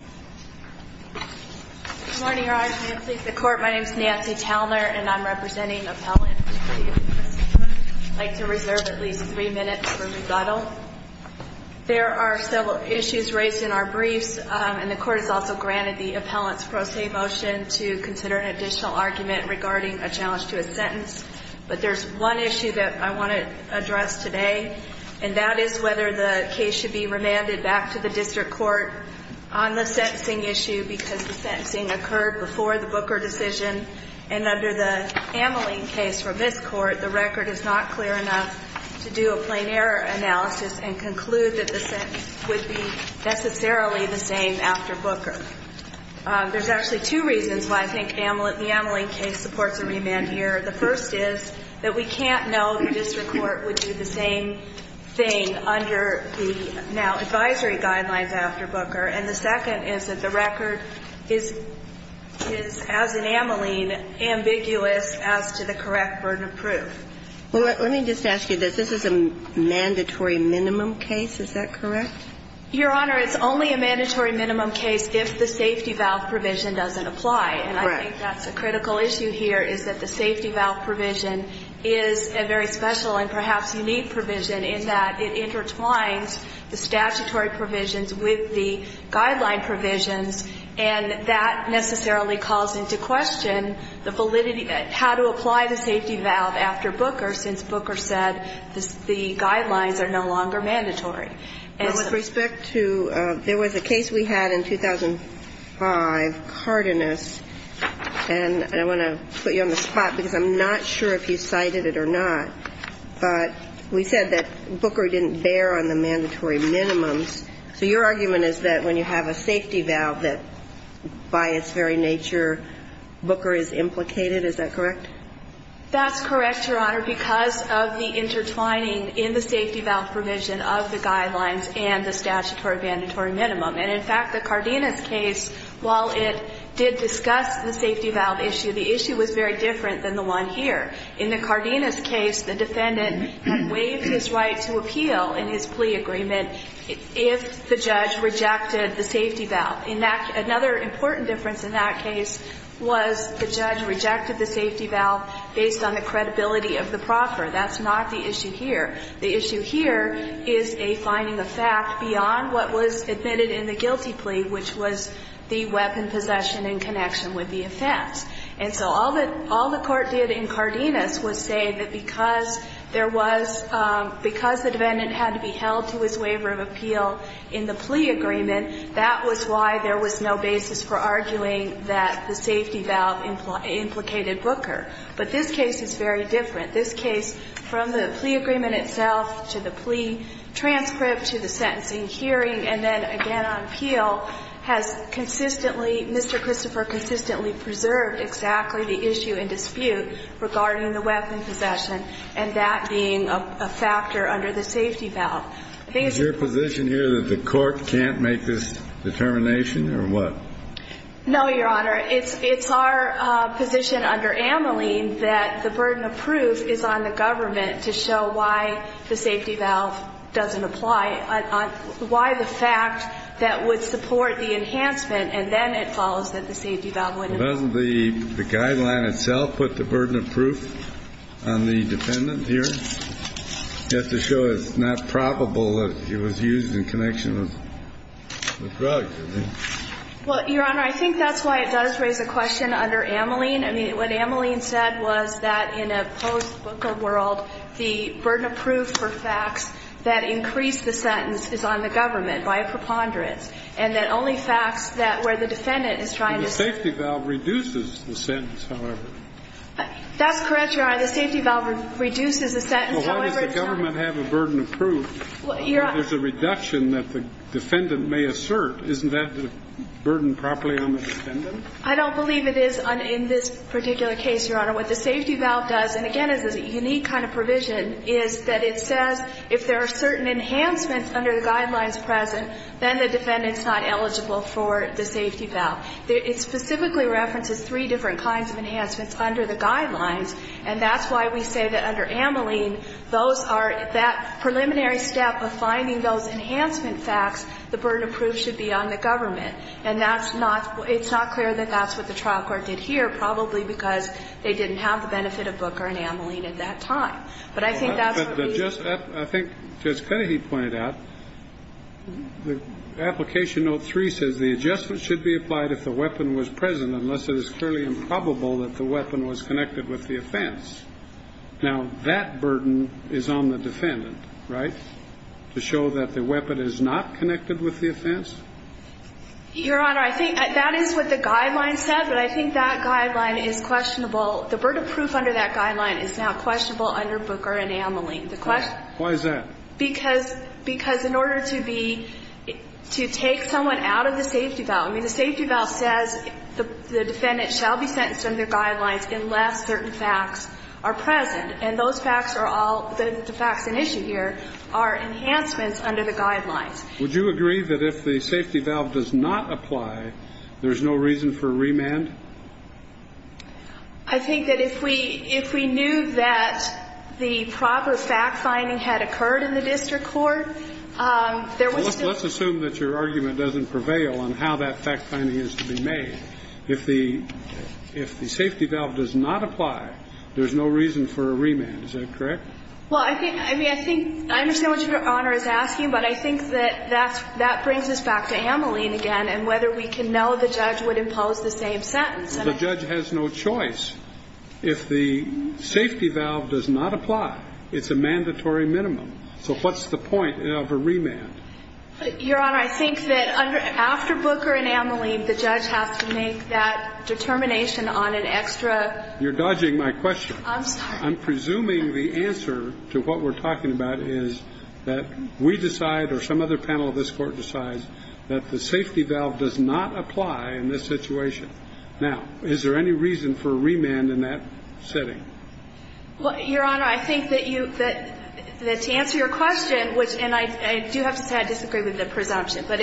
Good morning, Your Honor. My name is Nancy Talner, and I'm representing appellants. I'd like to reserve at least three minutes for rebuttal. There are several issues raised in our briefs, and the Court has also granted the appellant's pro se motion to consider an additional argument regarding a challenge to a sentence. But there's one issue that I want to address today, and that is whether the case should be remanded back to the district court on the sentencing issue because the sentencing occurred before the Booker decision. And under the Ameling case from this Court, the record is not clear enough to do a plain error analysis and conclude that the sentence would be necessarily the same after Booker. There's actually two reasons why I think the Ameling case supports a remand here. The first is that we can't know the district court would do the same thing under the now advisory guidelines after Booker. And the second is that the record is, as in Ameling, ambiguous as to the correct burden of proof. Well, let me just ask you this. This is a mandatory minimum case. Is that correct? Your Honor, it's only a mandatory minimum case if the safety valve provision doesn't apply. Correct. And I think that's a critical issue here is that the safety valve provision is a very special and perhaps unique provision in that it intertwines the statutory provisions with the guideline provisions, and that necessarily calls into question the validity of how to apply the safety valve after Booker since Booker said the guidelines are no longer mandatory. With respect to – there was a case we had in 2005, Cardenas, and I want to put you on the spot because I'm not sure if you cited it or not. But we said that Booker didn't bear on the mandatory minimums. So your argument is that when you have a safety valve that, by its very nature, Booker is implicated. Is that correct? That's correct, Your Honor, because of the intertwining in the safety valve provision of the guidelines and the statutory mandatory minimum. And in fact, the Cardenas case, while it did discuss the safety valve issue, the issue was very different than the one here. In the Cardenas case, the defendant waived his right to appeal in his plea agreement if the judge rejected the safety valve. In that – another important difference in that case was the judge rejected the safety valve based on the credibility of the proffer. That's not the issue here. The issue here is a finding of fact beyond what was admitted in the guilty plea, which was the weapon possession in connection with the offense. And so all the court did in Cardenas was say that because there was – because the defendant had to be held to his waiver of appeal in the plea agreement, that was why there was no basis for arguing that the safety valve implicated Booker. But this case is very different. This case, from the plea agreement itself to the plea transcript to the sentencing hearing and then again on appeal, has consistently – Mr. Christopher consistently preserved exactly the issue and dispute regarding the weapon possession and that being a factor under the safety valve. I think it's – Is your position here that the court can't make this determination or what? No, Your Honor. It's our position under Ameline that the burden of proof is on the government to show why the safety valve doesn't apply, why the fact that would support the enhancement and then it follows that the safety valve wouldn't. Doesn't the guideline itself put the burden of proof on the defendant here? You have to show it's not probable that it was used in connection with the drug. Well, Your Honor, I think that's why it does raise a question under Ameline. I mean, what Ameline said was that in a post-Booker world, the burden of proof for facts that increase the sentence is on the government by a preponderance and that only facts that – where the defendant is trying to – The safety valve reduces the sentence, however. That's correct, Your Honor. The safety valve reduces the sentence, however – Well, why does the government have a burden of proof? There's a reduction that the defendant may assert. Isn't that a burden properly on the defendant? I don't believe it is in this particular case, Your Honor. What the safety valve does, and again it's a unique kind of provision, is that it says if there are certain enhancements under the guidelines present, then the defendant's not eligible for the safety valve. It specifically references three different kinds of enhancements under the guidelines And that's why we say that under Ameline, those are – that preliminary step of finding those enhancement facts, the burden of proof should be on the government. And that's not – it's not clear that that's what the trial court did here, probably because they didn't have the benefit of Booker and Ameline at that time. But I think that's what we – I think Judge Kennedy pointed out, the application note 3 says, the adjustment should be applied if the weapon was present, unless it is clearly improbable that the weapon was connected with the offense. Now, that burden is on the defendant, right, to show that the weapon is not connected with the offense? Your Honor, I think that is what the guidelines said, but I think that guideline is questionable. The burden of proof under that guideline is now questionable under Booker and Ameline. The question – Why is that? Because in order to be – to take someone out of the safety valve – I mean, the safety valve says the defendant shall be sentenced under guidelines unless certain facts are present. And those facts are all – the facts at issue here are enhancements under the guidelines. Would you agree that if the safety valve does not apply, there's no reason for remand? I think that if we – if we knew that the proper fact-finding had occurred in the district court, there was still – there was still no reason for a remand. I mean, if the safety valve does not apply, there's no reason for a remand. Is that correct? Well, I think – I mean, I think – I understand what Your Honor is asking, but I think that that brings us back to Ameline again and whether we can know the judge would impose the same sentence. The judge has no choice. If the safety valve does not apply, it's a mandatory minimum. So what's the point of a remand? Your Honor, I think that after Booker and Ameline, the judge has to make that determination on an extra – You're dodging my question. I'm sorry. I'm presuming the answer to what we're talking about is that we decide or some other panel of this Court decides that the safety valve does not apply in this situation. Now, is there any reason for a remand in that setting? Well, Your Honor, I think that you – that to answer your question, which – and I do have to say I disagree with the presumption. But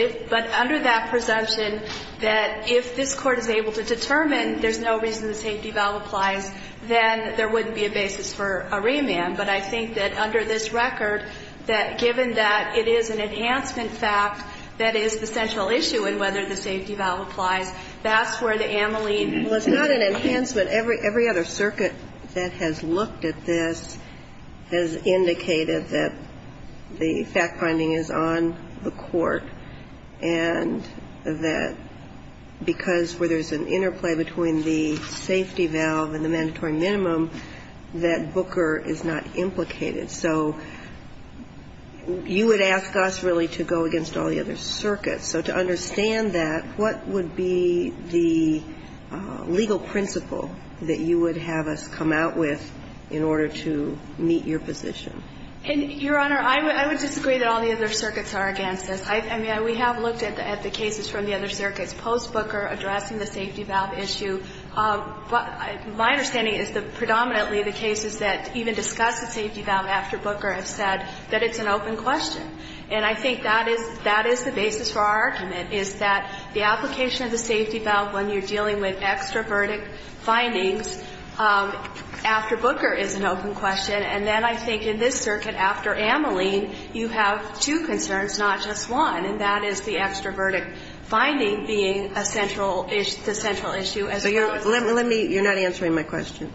under that presumption, that if this Court is able to determine there's no reason the safety valve applies, then there wouldn't be a basis for a remand. But I think that under this record, that given that it is an enhancement fact that is the central issue in whether the safety valve applies, that's where the Ameline Well, it's not an enhancement. Every other circuit that has looked at this has indicated that the fact finding is on the Court and that because where there's an interplay between the safety valve and the mandatory minimum, that Booker is not implicated. So you would ask us really to go against all the other circuits. So to understand that, what would be the legal principle that you would have us come out with in order to meet your position? And, Your Honor, I would disagree that all the other circuits are against this. I mean, we have looked at the cases from the other circuits post-Booker addressing the safety valve issue. But my understanding is that predominantly the cases that even discuss the safety valve after Booker have said that it's an open question. And I think that is the basis for our argument, is that the application of the safety valve when you're dealing with extraverdict findings after Booker is an open question. And then I think in this circuit after Ameline, you have two concerns, not just one, and that is the extraverdict finding being a central issue, the central issue as opposed to the safety valve. So you're not answering my question.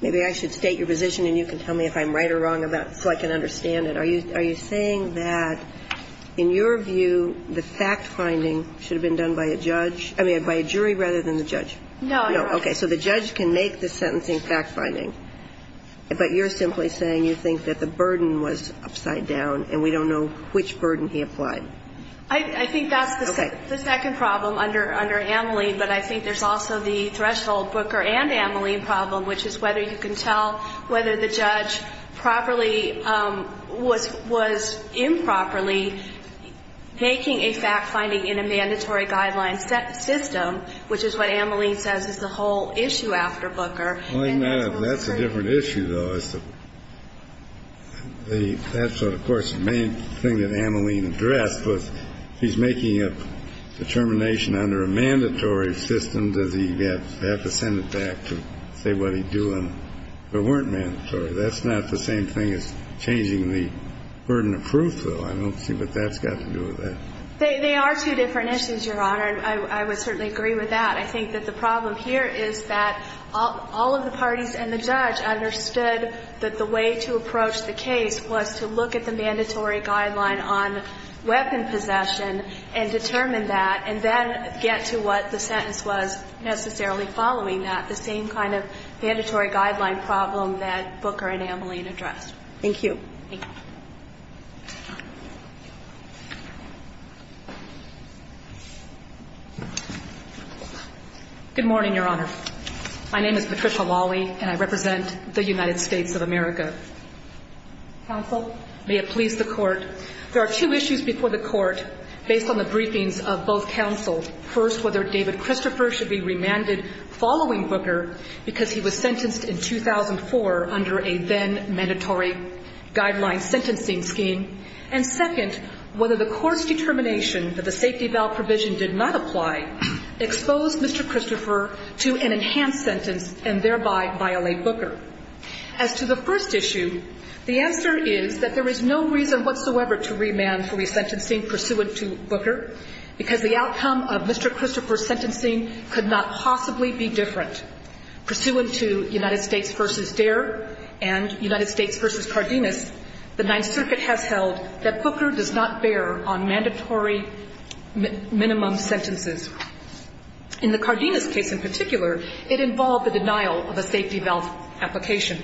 Maybe I should state your position and you can tell me if I'm right or wrong so I can understand it. Are you saying that in your view the fact-finding should have been done by a judge, I mean by a jury rather than the judge? No, Your Honor. Okay. So the judge can make the sentencing fact-finding, but you're simply saying you think that the burden was upside down and we don't know which burden he applied. I think that's the second problem under Ameline, but I think there's also the threshold Booker and Ameline problem, which is whether you can tell whether the judge properly was improperly making a fact-finding in a mandatory guideline system, which is what Ameline says is the whole issue after Booker. Well, that's a different issue, though. That's what, of course, the main thing that Ameline addressed was he's making a determination under a mandatory system. Does he have to send it back to say what he'd do if it weren't mandatory? That's not the same thing as changing the burden of proof, though. I don't see what that's got to do with that. They are two different issues, Your Honor, and I would certainly agree with that. I think that the problem here is that all of the parties and the judge understood that the way to approach the case was to look at the mandatory guideline on weapon possession and determine that, and then get to what the sentence was necessarily following that, the same kind of mandatory guideline problem that Booker and Ameline addressed. Thank you. Thank you. Good morning, Your Honor. My name is Patricia Lawley, and I represent the United States of America. Counsel? May it please the Court. There are two issues before the Court based on the briefings of both counsel. First, whether David Christopher should be remanded following Booker because he was sentenced in 2004 under a then-mandatory guideline sentencing scheme. And second, whether the Court's determination that the safety valve provision did not apply exposed Mr. Christopher to an enhanced sentence and thereby violate Booker. As to the first issue, the answer is that there is no reason whatsoever to remand for resentencing pursuant to Booker because the outcome of Mr. Christopher's sentencing could not possibly be different. Pursuant to United States v. Dare and United States v. Cardenas, the Ninth Circuit has held that Booker does not bear on mandatory minimum sentences. In the Cardenas case in particular, it involved the denial of a safety valve application.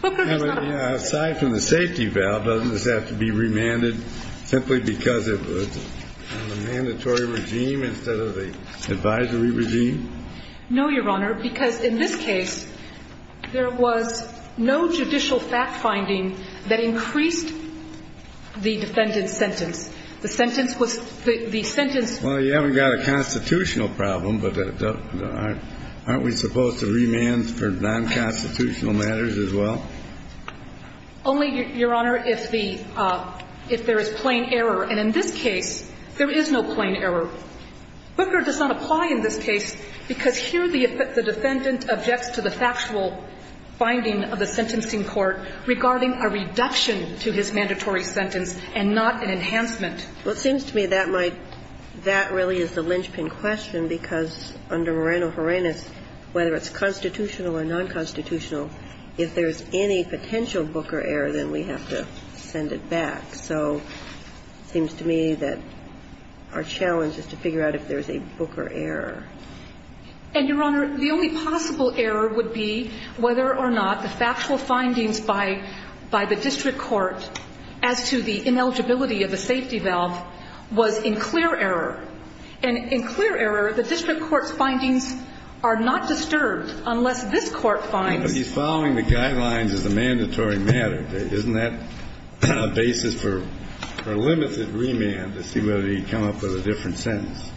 Booker does not have to be remanded. Yeah, but aside from the safety valve, doesn't this have to be remanded simply because of the mandatory regime instead of the advisory regime? No, Your Honor, because in this case, there was no judicial fact-finding that increased the defendant's sentence. We've got a constitutional problem, but aren't we supposed to remand for nonconstitutional matters as well? Only, Your Honor, if the – if there is plain error. And in this case, there is no plain error. Booker does not apply in this case because here the defendant objects to the factual finding of the sentencing court regarding a reduction to his mandatory sentence and not an enhancement. Well, it seems to me that might – that really is the linchpin question because under Moreno-Herenas, whether it's constitutional or nonconstitutional, if there's any potential Booker error, then we have to send it back. So it seems to me that our challenge is to figure out if there's a Booker error. And, Your Honor, the only possible error would be whether or not the factual findings by the district court as to the ineligibility of the safety valve was in clear error. And in clear error, the district court's findings are not disturbed unless this court finds – But he's following the guidelines as a mandatory matter. Isn't that a basis for a limited remand to see whether he'd come up with a different sentence?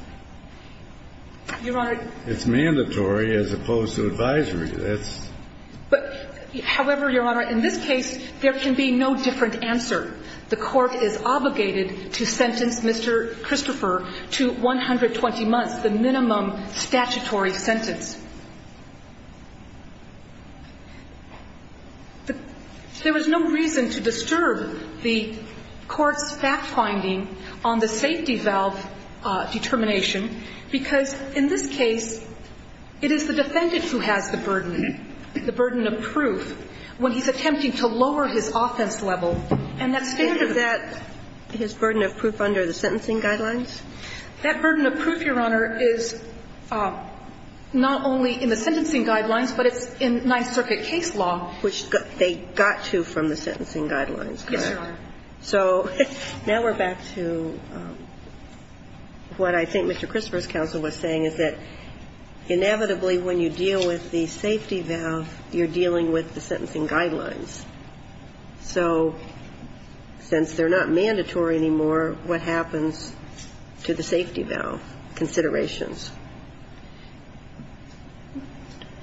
Your Honor – It's mandatory as opposed to advisory. That's – But, however, Your Honor, in this case, there can be no different answer. The court is obligated to sentence Mr. Christopher to 120 months, the minimum statutory sentence. There is no reason to disturb the court's fact-finding on the safety valve determination because in this case, it is the defendant who has the burden. The burden of proof when he's attempting to lower his offense level, and that's standard. Isn't that his burden of proof under the sentencing guidelines? That burden of proof, Your Honor, is not only in the sentencing guidelines, but it's in Ninth Circuit case law. Which they got to from the sentencing guidelines, correct? Yes, Your Honor. So now we're back to what I think Mr. Christopher's counsel was saying, is that inevitably when you deal with the safety valve, you're dealing with the sentencing guidelines. So since they're not mandatory anymore, what happens to the safety valve considerations?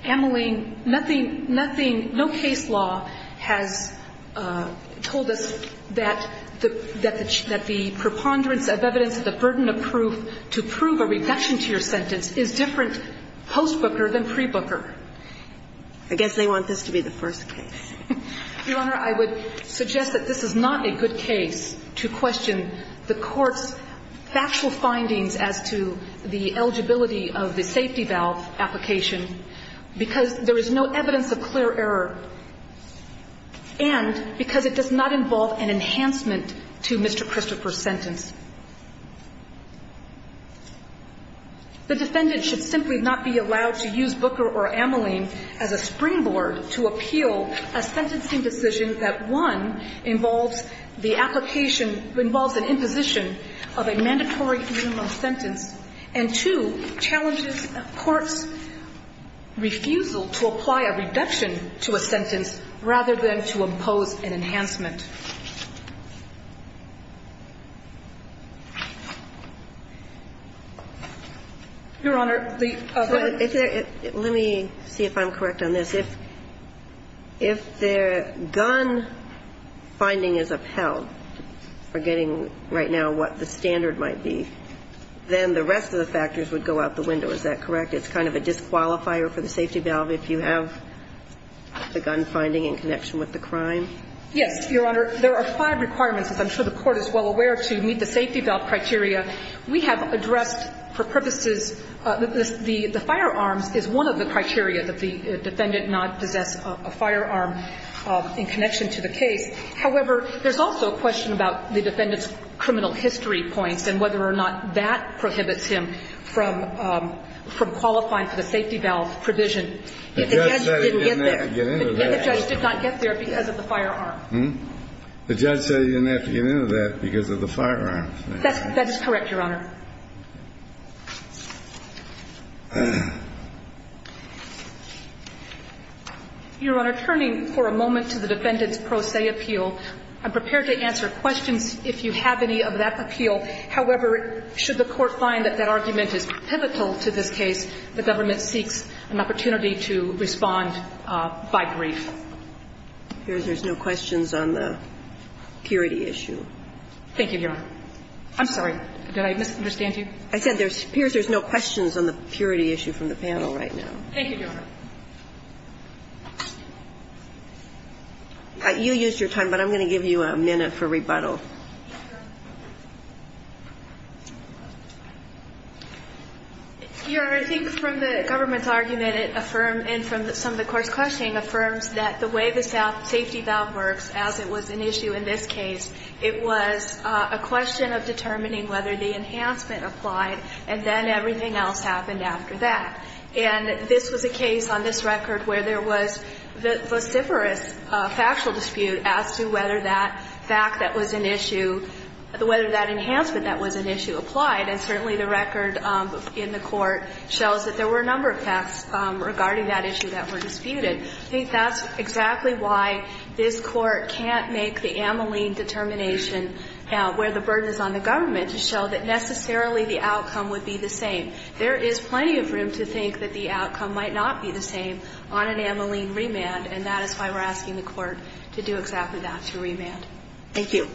Ameline, nothing – no case law has told us that the preponderance of evidence, the burden of proof to prove a reduction to your sentence is different post-Booker than pre-Booker. I guess they want this to be the first case. Your Honor, I would suggest that this is not a good case to question the court's factual findings as to the eligibility of the safety valve application because there is no evidence of clear error and because it does not involve an enhancement to Mr. Christopher's sentence. The defendant should simply not be allowed to use Booker or Ameline as a springboard to appeal a sentencing decision that, one, involves the application – involves an imposition of a mandatory minimum sentence and, two, challenges court's refusal to apply a reduction to a sentence rather than to impose an enhancement. Your Honor, the – Let me see if I'm correct on this. If the gun finding is upheld, forgetting right now what the standard might be, then the rest of the factors would go out the window. Is that correct? It's kind of a disqualifier for the safety valve if you have the gun finding in connection with the crime? Yes, Your Honor. Your Honor, there are five requirements, as I'm sure the Court is well aware, to meet the safety valve criteria. We have addressed for purposes – the firearms is one of the criteria that the defendant not possess a firearm in connection to the case. However, there's also a question about the defendant's criminal history points and whether or not that prohibits him from qualifying for the safety valve provision if the judge didn't get there. But if the judge did not get there because of the firearm? The judge said he didn't have to get into that because of the firearm. That is correct, Your Honor. Your Honor, turning for a moment to the defendant's pro se appeal, I'm prepared to answer questions if you have any of that appeal. However, should the Court find that that argument is pivotal to this case, the government seeks an opportunity to respond by brief. It appears there's no questions on the purity issue. Thank you, Your Honor. I'm sorry. Did I misunderstand you? I said it appears there's no questions on the purity issue from the panel right now. Thank you, Your Honor. You used your time, but I'm going to give you a minute for rebuttal. Your Honor, I think from the government's argument, and from some of the Court's questioning, affirms that the way the safety valve works, as it was an issue in this case, it was a question of determining whether the enhancement applied and then everything else happened after that. And this was a case on this record where there was vociferous factual dispute as to whether that fact that was an issue, whether that enhancement that was an issue applied. And certainly the record in the Court shows that there were a number of facts regarding that issue that were disputed. I think that's exactly why this Court can't make the ameline determination where the burden is on the government, to show that necessarily the outcome would be the same. There is plenty of room to think that the outcome might not be the same on an ameline And that is why we're asking the Court to do exactly that, to remand. Thank you.